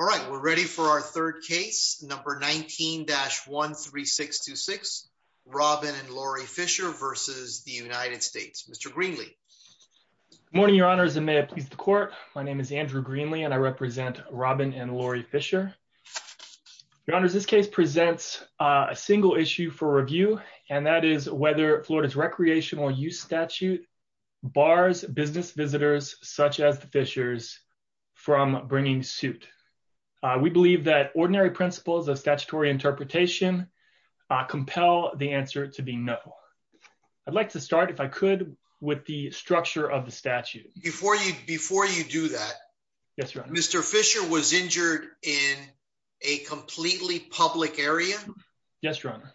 All right, we're ready for our third case, number 19-13626, Robin and Lori Fisher v. United States. Mr. Greenlee. Good morning, Your Honors, and may it please the Court. My name is Andrew Greenlee, and I represent Robin and Lori Fisher. Your Honors, this case presents a single issue for review, and that is whether Florida's recreational use statute bars business visitors, such as the Fishers, from bringing suit. We believe that ordinary principles of statutory interpretation compel the answer to be no. I'd like to start, if I could, with the structure of the statute. Before you do that, Mr. Fisher was injured in a completely public area? Yes, Your Honor.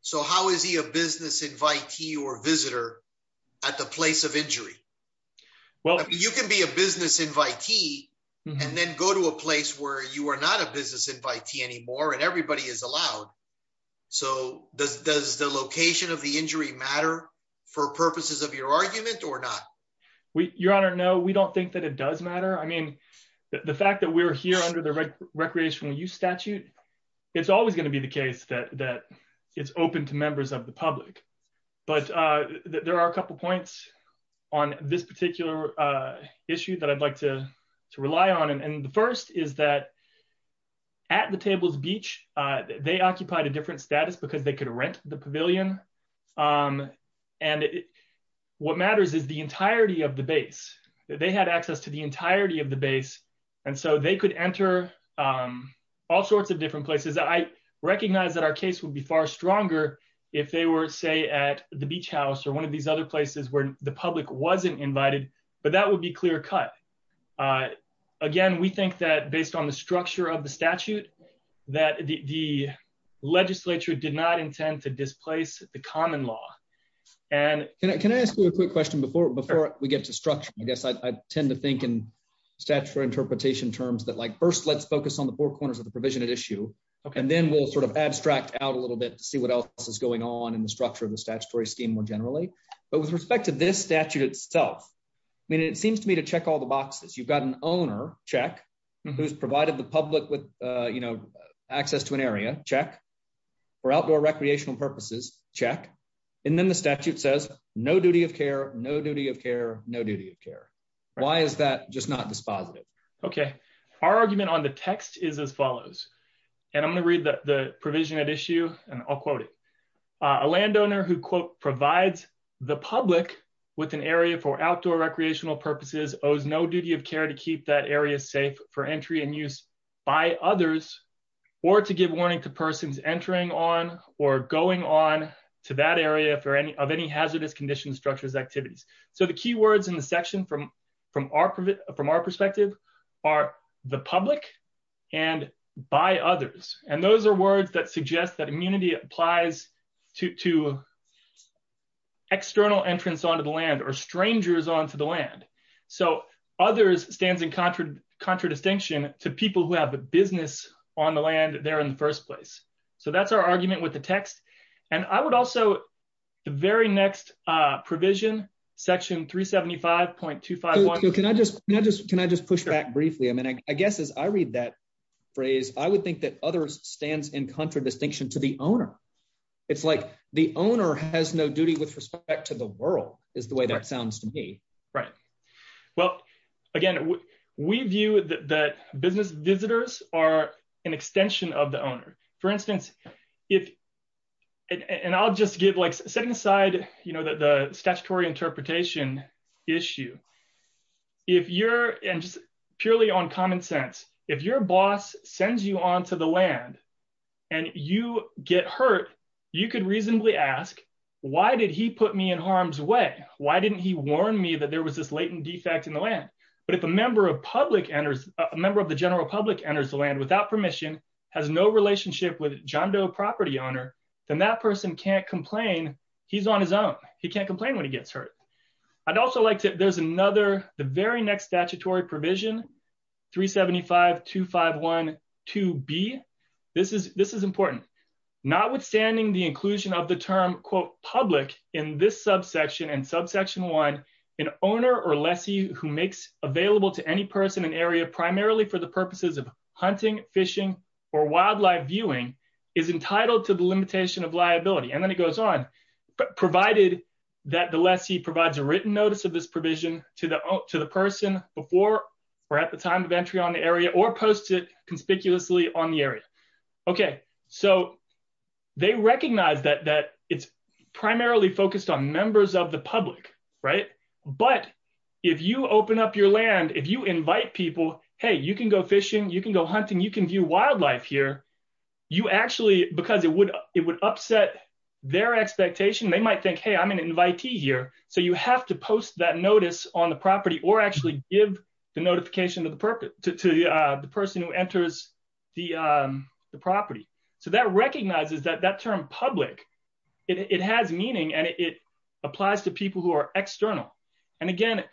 So how is he a business invitee or visitor at the place of injury? Well, you can be a business invitee and then go to a place where you are not a business invitee anymore and everybody is allowed. So does the location of the injury matter for purposes of your argument or not? Your Honor, no, we don't think that it does matter. I mean, the fact that we're here under the recreational use statute, it's always going to be the case that it's open to members of the public. But there are a couple points on this particular issue that I'd like to rely on. And the first is that at the Tables Beach, they occupied a different status because they could rent the pavilion. And what matters is the entirety of the base. They had access to the entirety of the base. And so they could enter all sorts of different places. I recognize that our case would be far stronger if they were, say, at the Beach House or one of these other places where the public wasn't invited. But that would be clear cut. Again, we think that based on the structure of the statute, that the legislature did not intend to displace the common law. Can I ask you a quick question before we get to structure? I guess I tend to think in statutory interpretation terms that like first let's focus on the four corners of the provision at issue. And then we'll sort of abstract out a little bit to see what else is going on in the structure of the statutory scheme more generally. But with respect to this statute itself, I mean, it seems to me to check all the boxes. You've got an owner, check, who's provided the public with, you know, access to an area, check. For outdoor recreational purposes, check. And then the statute says no duty of care, no duty of care, no duty of care. Why is that just not dispositive? Okay, our argument on the text is as follows. And I'm going to read the provision at issue and I'll quote it. A landowner who quote provides the public with an area for outdoor recreational purposes owes no duty of care to keep that area safe for entry and use by others, or to give warning to persons entering on or going on to that area for any of any hazardous condition structures activities. So the key words in the section from our perspective are the public and by others. And those are words that suggest that immunity applies to external entrance onto the land or strangers onto the land. So, others stands in contradistinction to people who have a business on the land there in the first place. So that's our argument with the text. And I would also, the very next provision, section 375.25. Can I just, can I just push back briefly, I mean, I guess as I read that phrase, I would think that others stands in contradistinction to the owner. It's like the owner has no duty with respect to the world is the way that sounds to me. Right. Well, again, we view that business visitors are an extension of the owner. For instance, if, and I'll just give like setting aside, you know that the statutory interpretation issue. If you're, and just purely on common sense, if your boss sends you on to the land, and you get hurt. You could reasonably ask, why did he put me in harm's way, why didn't he warn me that there was this latent defect in the land. But if a member of public enters a member of the general public enters the land without permission has no relationship with John Doe property owner, then that person can't complain, he's on his own, he can't complain when he gets hurt. I'd also like to, there's another, the very next statutory provision 375.251.2b. This is, this is important, notwithstanding the inclusion of the term quote public in this subsection and subsection one, an owner or lessee who makes available to any person in an area primarily for the purposes of hunting, fishing, or wildlife viewing is entitled to the limitation of liability and then it goes on, but provided that the lessee provides a written notice of this provision to the, to the person before or at the time of entry on the area or posted conspicuously on the area. Okay, so they recognize that that it's primarily focused on members of the public. Right. But if you open up your land if you invite people, hey, you can go fishing, you can go hunting, you can view wildlife here. You actually because it would, it would upset their expectation they might think hey I'm an invitee here, so you have to post that notice on the property or actually give the notification of the purpose to the person who enters the property. So that recognizes that that term public, it has meaning and it applies to people who are external. And again,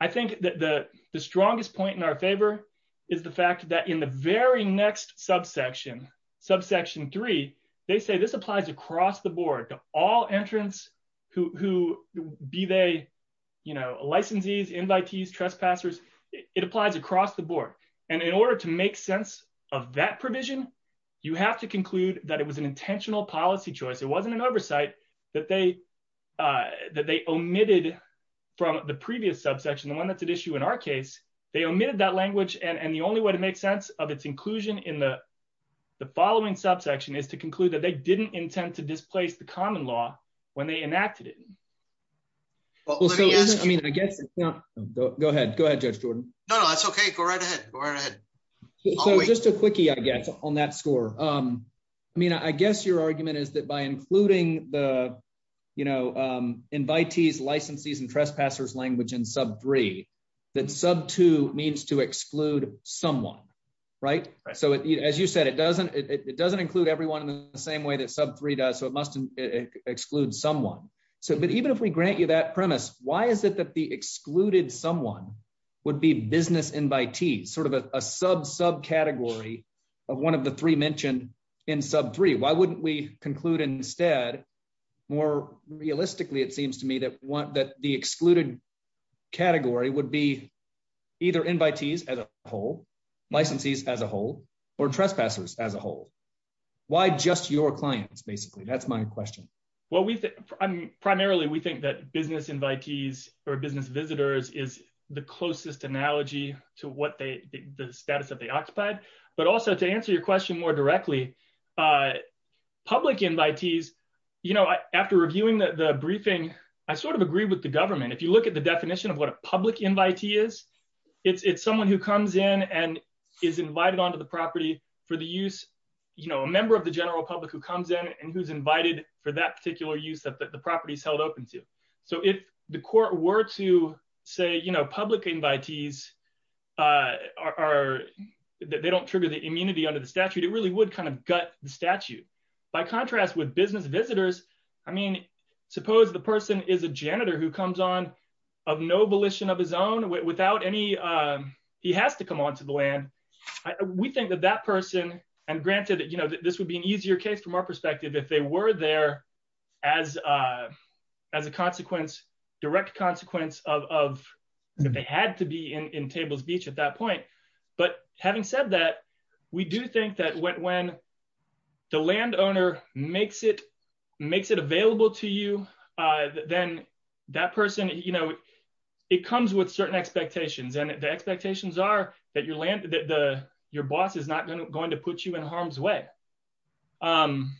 I think that the strongest point in our favor is the fact that in the very next subsection, subsection three, they say this applies across the board to all entrants who be they, you know, licensees, invitees, trespassers, it applies across the board. And in order to make sense of that provision, you have to conclude that it was an intentional policy choice. It wasn't an oversight that they omitted from the previous subsection, the one that's at issue in our case, they omitted that language and the only way to make sense of its inclusion in the following subsection is to conclude that they didn't intend to displace the common law, when they enacted it. I mean, I guess. Go ahead, go ahead. No, that's okay. Just a quickie I guess on that score. I mean, I guess your argument is that by including the, you know, invitees, licensees and trespassers language in sub three, that sub two means to exclude someone. Right. So as you said it doesn't, it doesn't include everyone in the same way that sub three does so it must exclude someone. So but even if we grant you that premise, why is it that the excluded someone would be business invitees sort of a sub sub category of one of the three mentioned in sub three why wouldn't we conclude instead, more realistically it seems to me that want that the excluded category would be either invitees as a whole licensees as a whole, or trespassers as a whole. Why just your clients basically that's my question. Well we primarily we think that business invitees or business visitors is the closest analogy to what they, the status of the occupied, but also to answer your question more directly. Public invitees, you know, after reviewing the briefing, I sort of agree with the government if you look at the definition of what a public invitee is it's someone who comes in and is invited onto the property for the use, you know, a member of the general public who comes in and who's invited for that particular use of the properties held open to. So if the court were to say you know public invitees are that they don't trigger the immunity under the statute it really would kind of gut the statute. By contrast with business visitors. I mean, suppose the person is a janitor who comes on of no volition of his own without any. He has to come on to the land. We think that that person, and granted that you know that this would be an easier case from our perspective if they were there as a, as a consequence, direct consequence of that they had to be in Tables Beach at that point. But having said that, we do think that when the landowner makes it makes it available to you, then that person, you know, it comes with certain expectations and the expectations are that your land that the, your boss is not going to going to put you in harm's way. Um,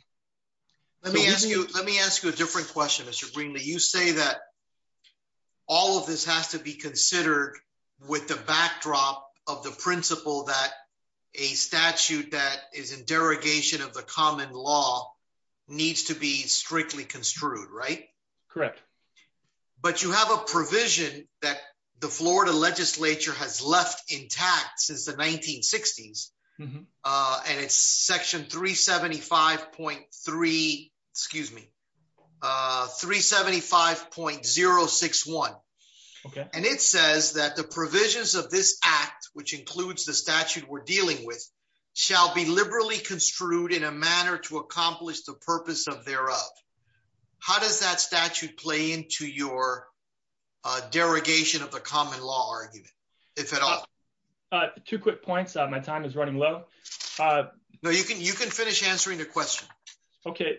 let me ask you, let me ask you a different question Mr Greenlee you say that all of this has to be considered with the backdrop of the principle that a statute that is in derogation of the common law needs to be strictly construed right. Correct. But you have a provision that the Florida legislature has left intact since the 1960s, and it's section 375.3, excuse me, 375.061. And it says that the provisions of this act, which includes the statute we're dealing with shall be liberally construed in a manner to accomplish the purpose of thereof. How does that statute play into your derogation of the common law argument, if at all. Two quick points on my time is running low. No, you can you can finish answering the question. Okay.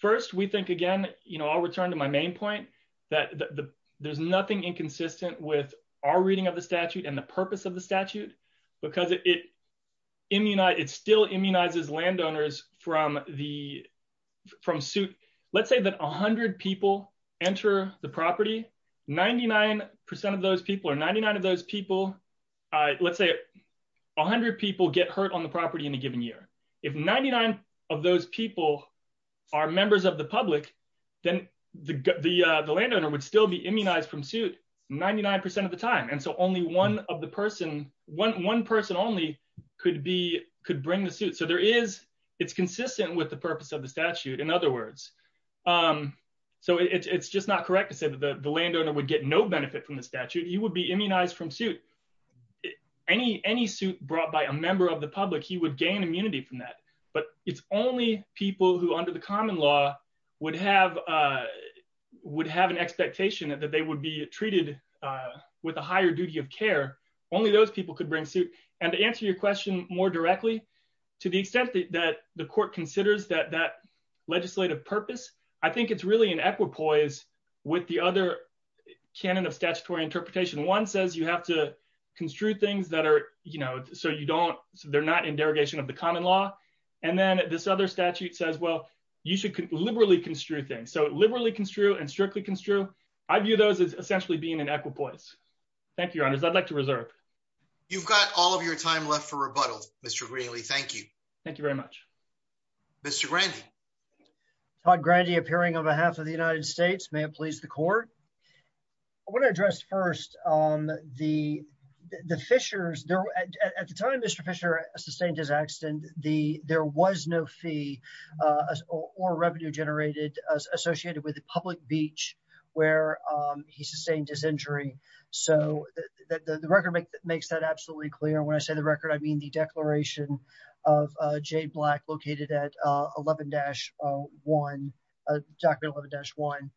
First, we think again, you know, I'll return to my main point that there's nothing inconsistent with our reading of the statute and the purpose of the statute, because it immunize it still immunizes landowners from the from suit. Let's say that 100 people enter the property 99% of those people are 99 of those people. Let's say 100 people get hurt on the property in a given year. If 99 of those people are members of the public, then the, the, the landowner would still be immunized from suit 99% of the time and so only one of the person, one person only could be could bring the suit so there is, it's consistent with the purpose of the statute. In other words, um, so it's just not correct to say that the landowner would get no benefit from the statute, you will be immunized from suit. Any, any suit brought by a member of the public, he would gain immunity from that, but it's only people who under the common law would have would have an expectation that they would be treated with a higher duty of care. Only those people could bring suit and answer your question more directly, to the extent that the court considers that that legislative purpose. I think it's really an equipoise with the other canon of statutory interpretation one says you have to construe You've got all of your time left for rebuttal. Mr. Greenlee thank you. Thank you very much. Mr. Randy. Todd Grady appearing on behalf of the United States may please the court. I want to address first on the, the fishers there at the time Mr Fisher sustained his accident, the, there was no fee or revenue generated as associated with the public beach, where he sustained his injury. So, the record makes that absolutely clear when I say the record I mean the declaration of Jay black located at 11 dash one document 11 dash one.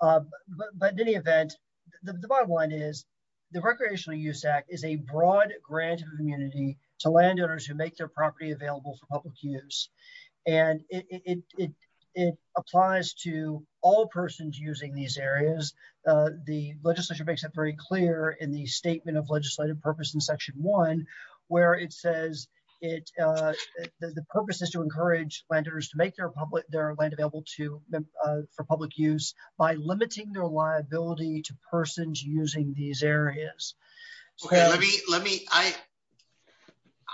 But in any event, the bottom line is the recreational use act is a broad grant community to landowners who make their property available for public use. And it applies to all persons using these areas. The legislature makes it very clear in the statement of legislative purpose in section one, where it says it. The purpose is to encourage vendors to make their public their land available to for public use by limiting their liability to persons using these areas. Let me, let me, I,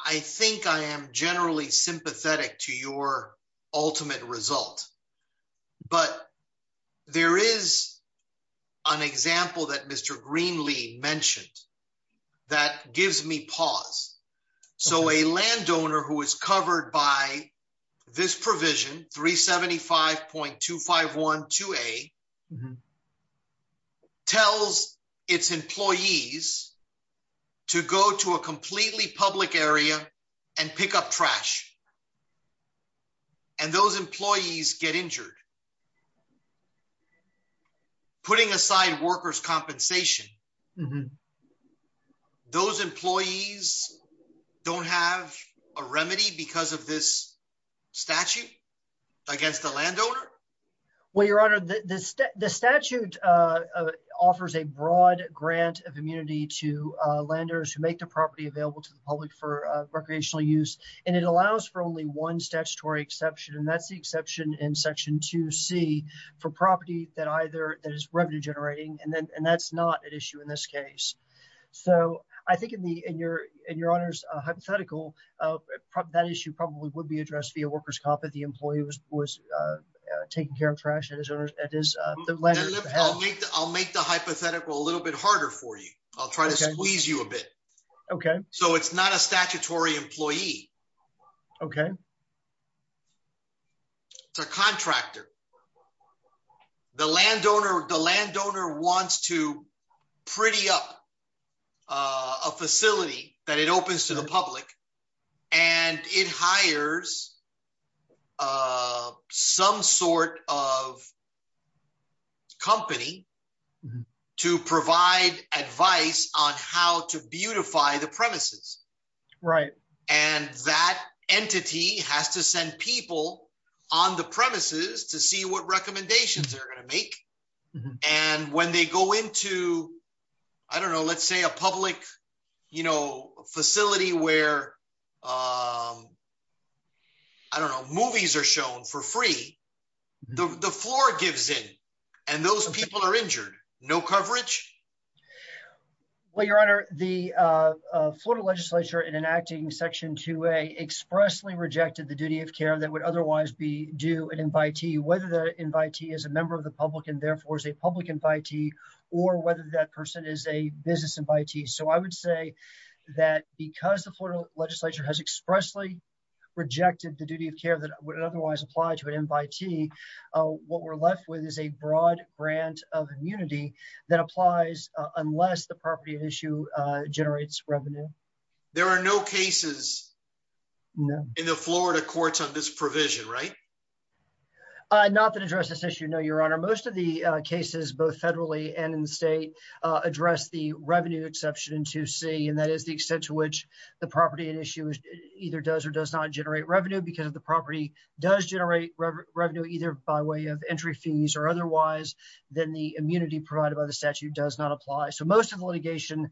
I think I am generally sympathetic to your ultimate result. But there is an example that Mr Greenlee mentioned that gives me pause. So a landowner who is covered by this provision 375.2512 a tells its employees to go to a completely public area and pick up trash. And those employees get injured. Putting aside workers compensation. Those employees don't have a remedy because of this statute against the landowner. The statute offers a broad grant of immunity to lenders who make the property available to the public for recreational use, and it allows for only one statutory exception and that's the exception in section to see for property that either that is revenue generating and then and that's not an issue in this case. So, I think in the in your, in your honors hypothetical problem that issue probably would be addressed via workers competent the employee was was taking care of trash and his owners, it is the letter. I'll make the hypothetical a little bit harder for you. I'll try to squeeze you a bit. Okay, so it's not a statutory employee. Okay. It's a contractor. The landowner the landowner wants to pretty up a facility that it opens to the public, and it hires some sort of company to provide advice on how to beautify the premises. Right. And that entity has to send people on the premises to see what recommendations are going to make. And when they go into. I don't know let's say a public, you know, facility where I don't know movies are shown for free. The floor gives it. And those people are injured, no coverage. Well, Your Honor, the Florida legislature in enacting section to a expressly rejected the duty of care that would otherwise be do an invitee whether the invitee is a member of the public and therefore is a public invitee, or whether that person is a unless the property issue generates revenue. There are no cases in the Florida courts on this provision right. Not that address this issue no Your Honor most of the cases both federally and in the state address the revenue exception to see and that is the extent to which the property and issues, either does or does not generate revenue because of the property does generate revenue either by way of entry fees or otherwise, then the immunity provided by the statute does not apply so most of the litigation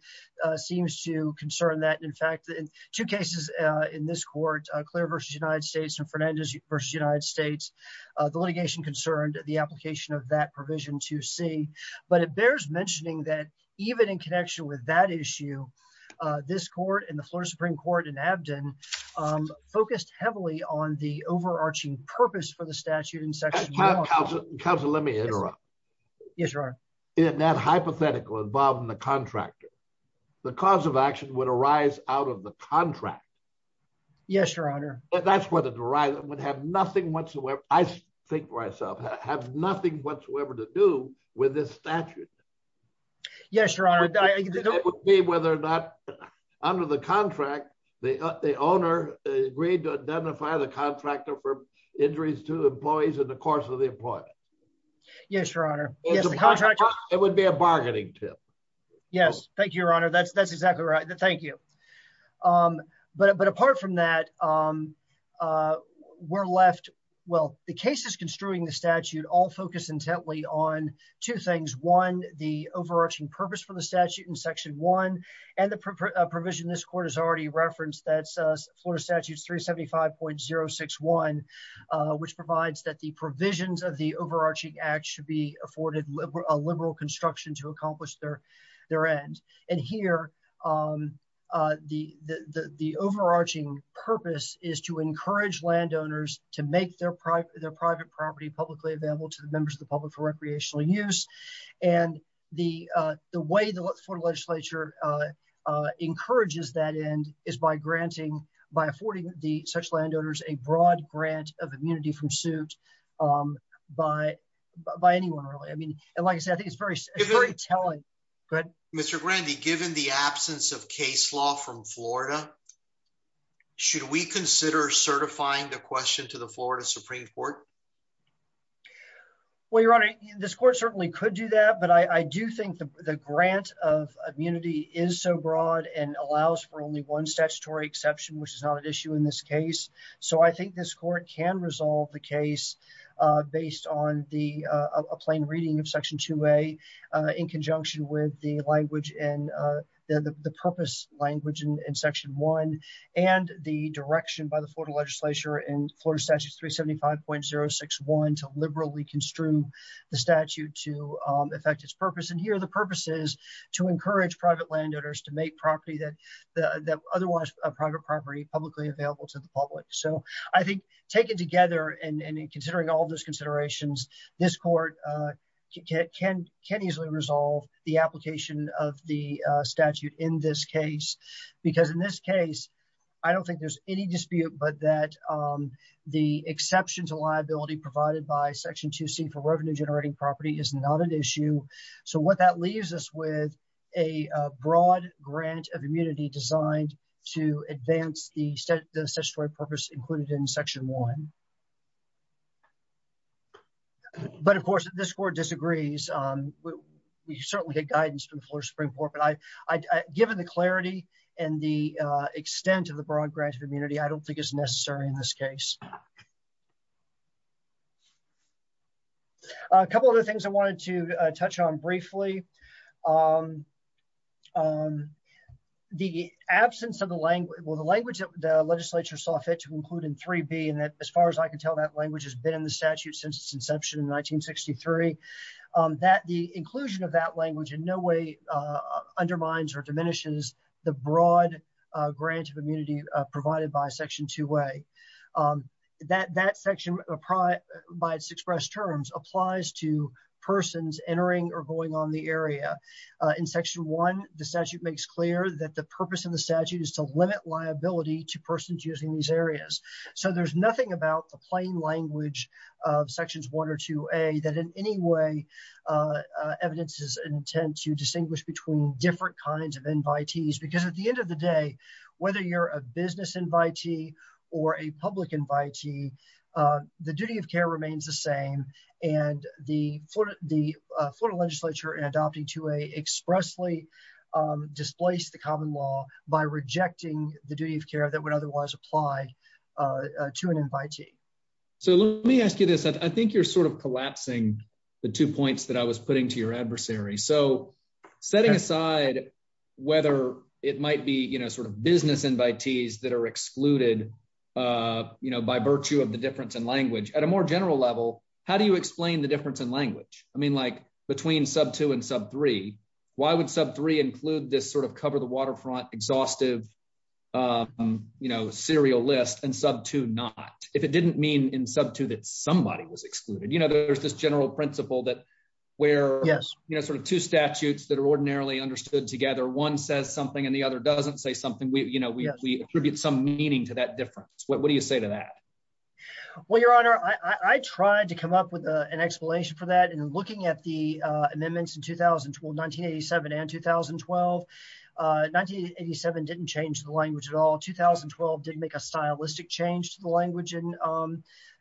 seems to concern that in fact in two cases in this court, Claire versus United States and Fernandez versus United States, the litigation concerned, the application of that provision to see, but it bears mentioning that even in connection with that issue. This court in the floor Supreme Court in Abedin focused heavily on the overarching purpose for the statute and sexual counsel, let me interrupt. Yes, Your Honor, in that hypothetical involved in the contractor. The cause of action would arise out of the contract. Yes, Your Honor, that's what the drive would have nothing whatsoever. I think myself have nothing whatsoever to do with this statute. Yes, Your Honor. Whether or not under the contract, the, the owner agreed to identify the contractor for injuries to employees in the course of the employment. Yes, Your Honor. It would be a bargaining tip. Yes, thank you Your Honor that's that's exactly right. Thank you. But but apart from that, we're left. Well, the case is construing the statute all focus intently on two things one, the overarching purpose for the statute and section one, and the provision this court has already referenced that Florida statutes 375.061, which provides that the provisions of the overarching act should be afforded liberal construction to accomplish their, their end. And here, the, the, the overarching purpose is to encourage landowners to make their private their private property publicly available to the members of the public for recreational use. And the, the way the legislature encourages that end is by granting by affording the such landowners a broad grant of immunity from suit by by anyone. I mean, like I said I think it's very, very telling. Good, Mr. Randy given the absence of case law from Florida. Should we consider certifying the question to the Florida Supreme Court. Well, Your Honor, this court certainly could do that but I do think the grant of immunity is so broad and allows for only one statutory exception which is not an issue in this case. So I think this court can resolve the case, based on the plain reading of section two way in conjunction with the language and the purpose language and section one, and the direction by the Florida legislature and Florida statute 375.061 to liberally construe the statute to affect its purpose and here the purpose is to encourage private landowners to make property that the other one is a private property publicly available to the public. So, I think, taken together and considering all those considerations. This court can can can easily resolve the application of the statute in this case, because in this case, I don't think there's any dispute but that the exceptions liability provided by section to see for this included in section one. But of course, this court disagrees. We certainly get guidance from the floor Supreme Court but I, given the clarity and the extent of the broad grant of immunity I don't think it's necessary in this case. A couple of other things I wanted to touch on briefly. The absence of the language will the language of the legislature saw fit to include in three be and that as far as I can tell that language has been in the statute since its inception in 1963 that the inclusion of that language in no way undermines or diminishes the broad grant of immunity, provided by section two way that that section of pride by its express terms applies to persons entering or going on the airwaves. In section one, the statute makes clear that the purpose of the statute is to limit liability to persons using these areas. So there's nothing about the plain language of sections one or two a that in any way. evidence is intent to distinguish between different kinds of invitees because at the end of the day, whether you're a business invitee, or a public invitee. The duty of care remains the same. And the Florida, the Florida legislature and adopting to a expressly displace the common law by rejecting the duty of care that would otherwise apply to an invitee. So let me ask you this, I think you're sort of collapsing. The two points that I was putting to your adversary so setting aside, whether it might be you know sort of business invitees that are excluded. You know, by virtue of the difference in language at a more general level, how do you explain the difference in language, I mean like between sub two and sub three, why would sub three include this sort of cover the waterfront exhaustive. You know serial list and sub to not if it didn't mean in sub to that somebody was excluded you know there's this general principle that where, yes, you know sort of two statutes that are ordinarily understood together one says something and the other doesn't say something we you know we attribute some meaning to that difference. What do you say to that. Well, Your Honor, I tried to come up with an explanation for that and looking at the amendments in 2012 1987 and 2012 1987 didn't change the language at all 2012 didn't make a stylistic change to the language and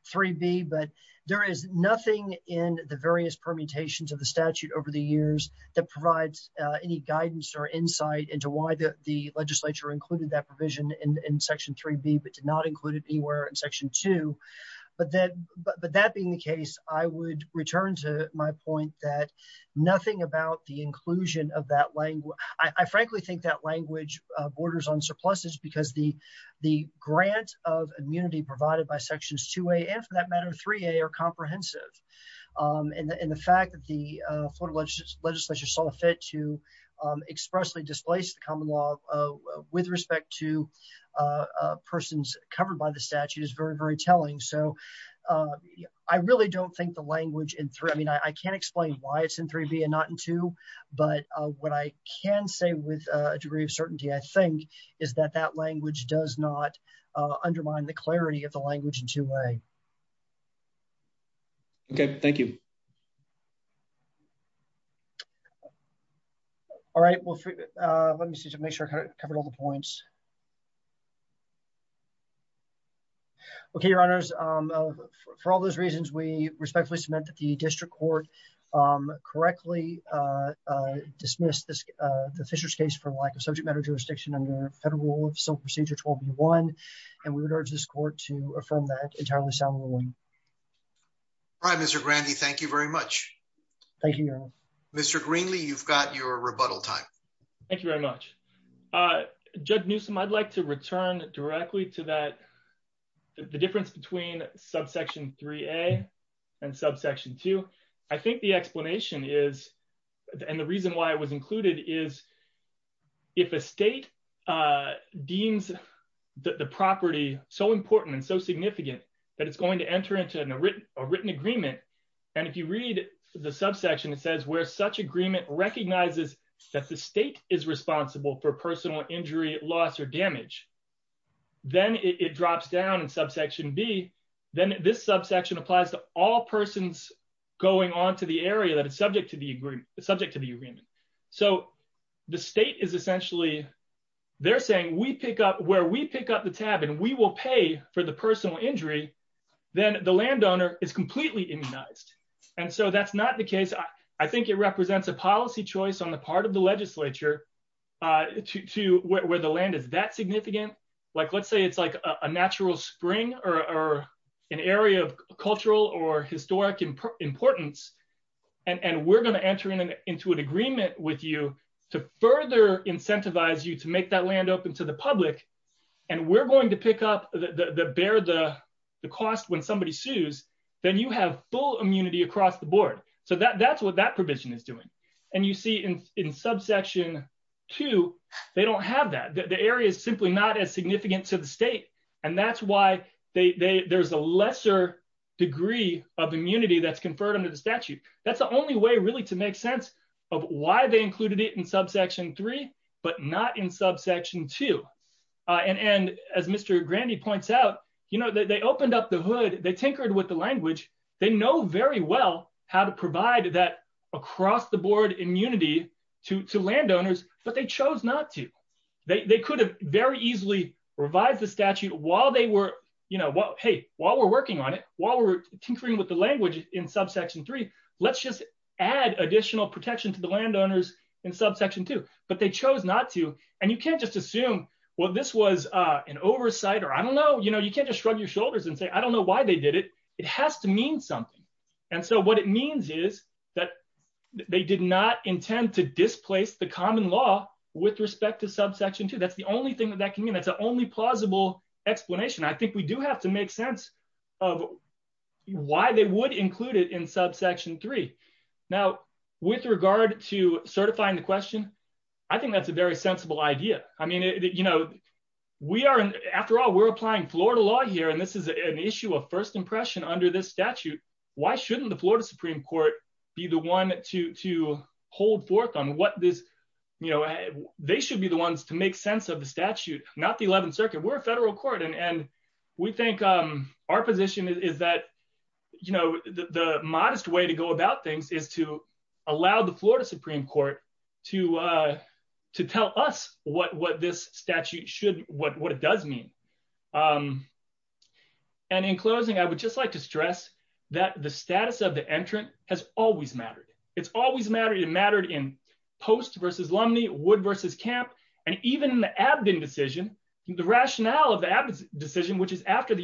three be but there is nothing in the various permutations of the statute over the years that provides any guidance or insight into why the legislature included that provision in section three be but did not include it anywhere in section two, but then, but that being the case, I would return to my point that there is nothing about the inclusion of that language, I frankly think that language borders on surpluses because the, the grant of immunity provided by sections to a and for that matter three a are comprehensive. And the fact that the legislature saw fit to expressly displace the common law, with respect to persons covered by the statute is very very telling so I really don't think the language in three I mean I can't explain why it's in three B and not into. But what I can say with a degree of certainty I think is that that language does not undermine the clarity of the language into a. Okay, thank you. All right, well, let me see to make sure I covered all the points. Okay, your honors. For all those reasons we respectfully submit that the district court correctly dismissed this, the Fisher's case for like a subject matter jurisdiction under federal some procedure 12 you want. And we would urge this court to affirm that entirely soundly. I'm Mr Randy thank you very much. Thank you, Mr Greenlee you've got your rebuttal time. Thank you very much. Judge Newsome I'd like to return directly to that. The difference between subsection three a and subsection two. I think the explanation is, and the reason why it was included is, if a state deems the property, so important and so significant that it's going to enter into a written, a written agreement. And if you read the subsection it says where such agreement recognizes that the state is responsible for personal injury loss or damage. Then it drops down and subsection be, then this subsection applies to all persons going on to the area that is subject to the agreement, the subject to the agreement. So, the state is essentially. They're saying we pick up where we pick up the tab and we will pay for the personal injury. Then the landowner is completely immunized. And so that's not the case. I think it represents a policy choice on the part of the legislature to where the land is that significant, like let's say it's like a natural spring or an area of cultural or to further incentivize you to make that land open to the public. And we're going to pick up the bear the cost when somebody sues, then you have full immunity across the board. So that that's what that provision is doing. And you see in in subsection two, they don't have that the area is simply not as significant to the state. And that's why they there's a lesser degree of immunity that's conferred under the statute. That's the only way really to make sense of why they included it in subsection three, but not in subsection two. And as Mr. Granny points out, you know that they opened up the hood, they tinkered with the language, they know very well how to provide that across the board immunity to landowners, but they chose not to. They could have very easily revise the statute while they were, you know what, hey, while we're working on it, while we're tinkering with the language in subsection three, let's just add additional protection to the landowners in subsection two, but they this was an oversight or I don't know, you know, you can't just shrug your shoulders and say I don't know why they did it, it has to mean something. And so what it means is that they did not intend to displace the common law with respect to subsection two that's the only thing that that can mean that's the only plausible explanation I think we do have to make sense of why they would include it in subsection three. Now, with regard to certifying the question. I think that's a very sensible idea. I mean, you know, we are after all we're applying Florida law here and this is an issue of first impression under this statute. Why shouldn't the Florida Supreme Court, be the one to hold forth on what this, you know, they should be the ones to make sense of the statute, not the 11th Circuit we're a federal court and we think our position is that, you know, the modest way to go about things is to allow the Florida Supreme Court to, to tell us what what this statute should what what it does mean. And in closing, I would just like to stress that the status of the entrant has always mattered. It's always matter you mattered in post versus Lumley would versus camp, and even the abdomen decision, the rationale of the decision which is after the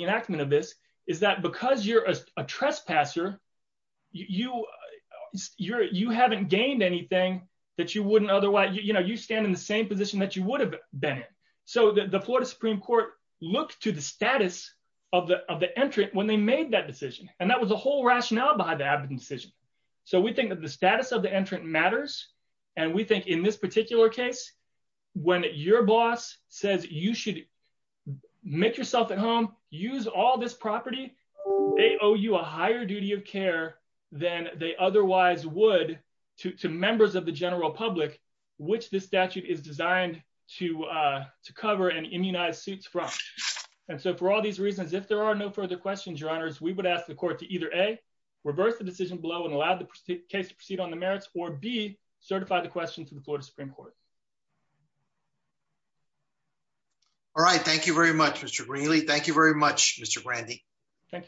to the status of the of the entrant when they made that decision, and that was the whole rationale behind the decision. So we think that the status of the entrant matters. And we think in this particular case, when your boss says you should make yourself at home, use all this property. They owe you a higher duty of care than they otherwise would to members of the general public, which this statute is designed to to cover and immunize suits from. And so for all these reasons if there are no further questions your honors we would ask the court to either a reverse the decision below and allowed the case to proceed on the merits or be certified the question to the Florida Supreme Court. All right, thank you very much, Mr really thank you very much, Mr Randy. Thank you.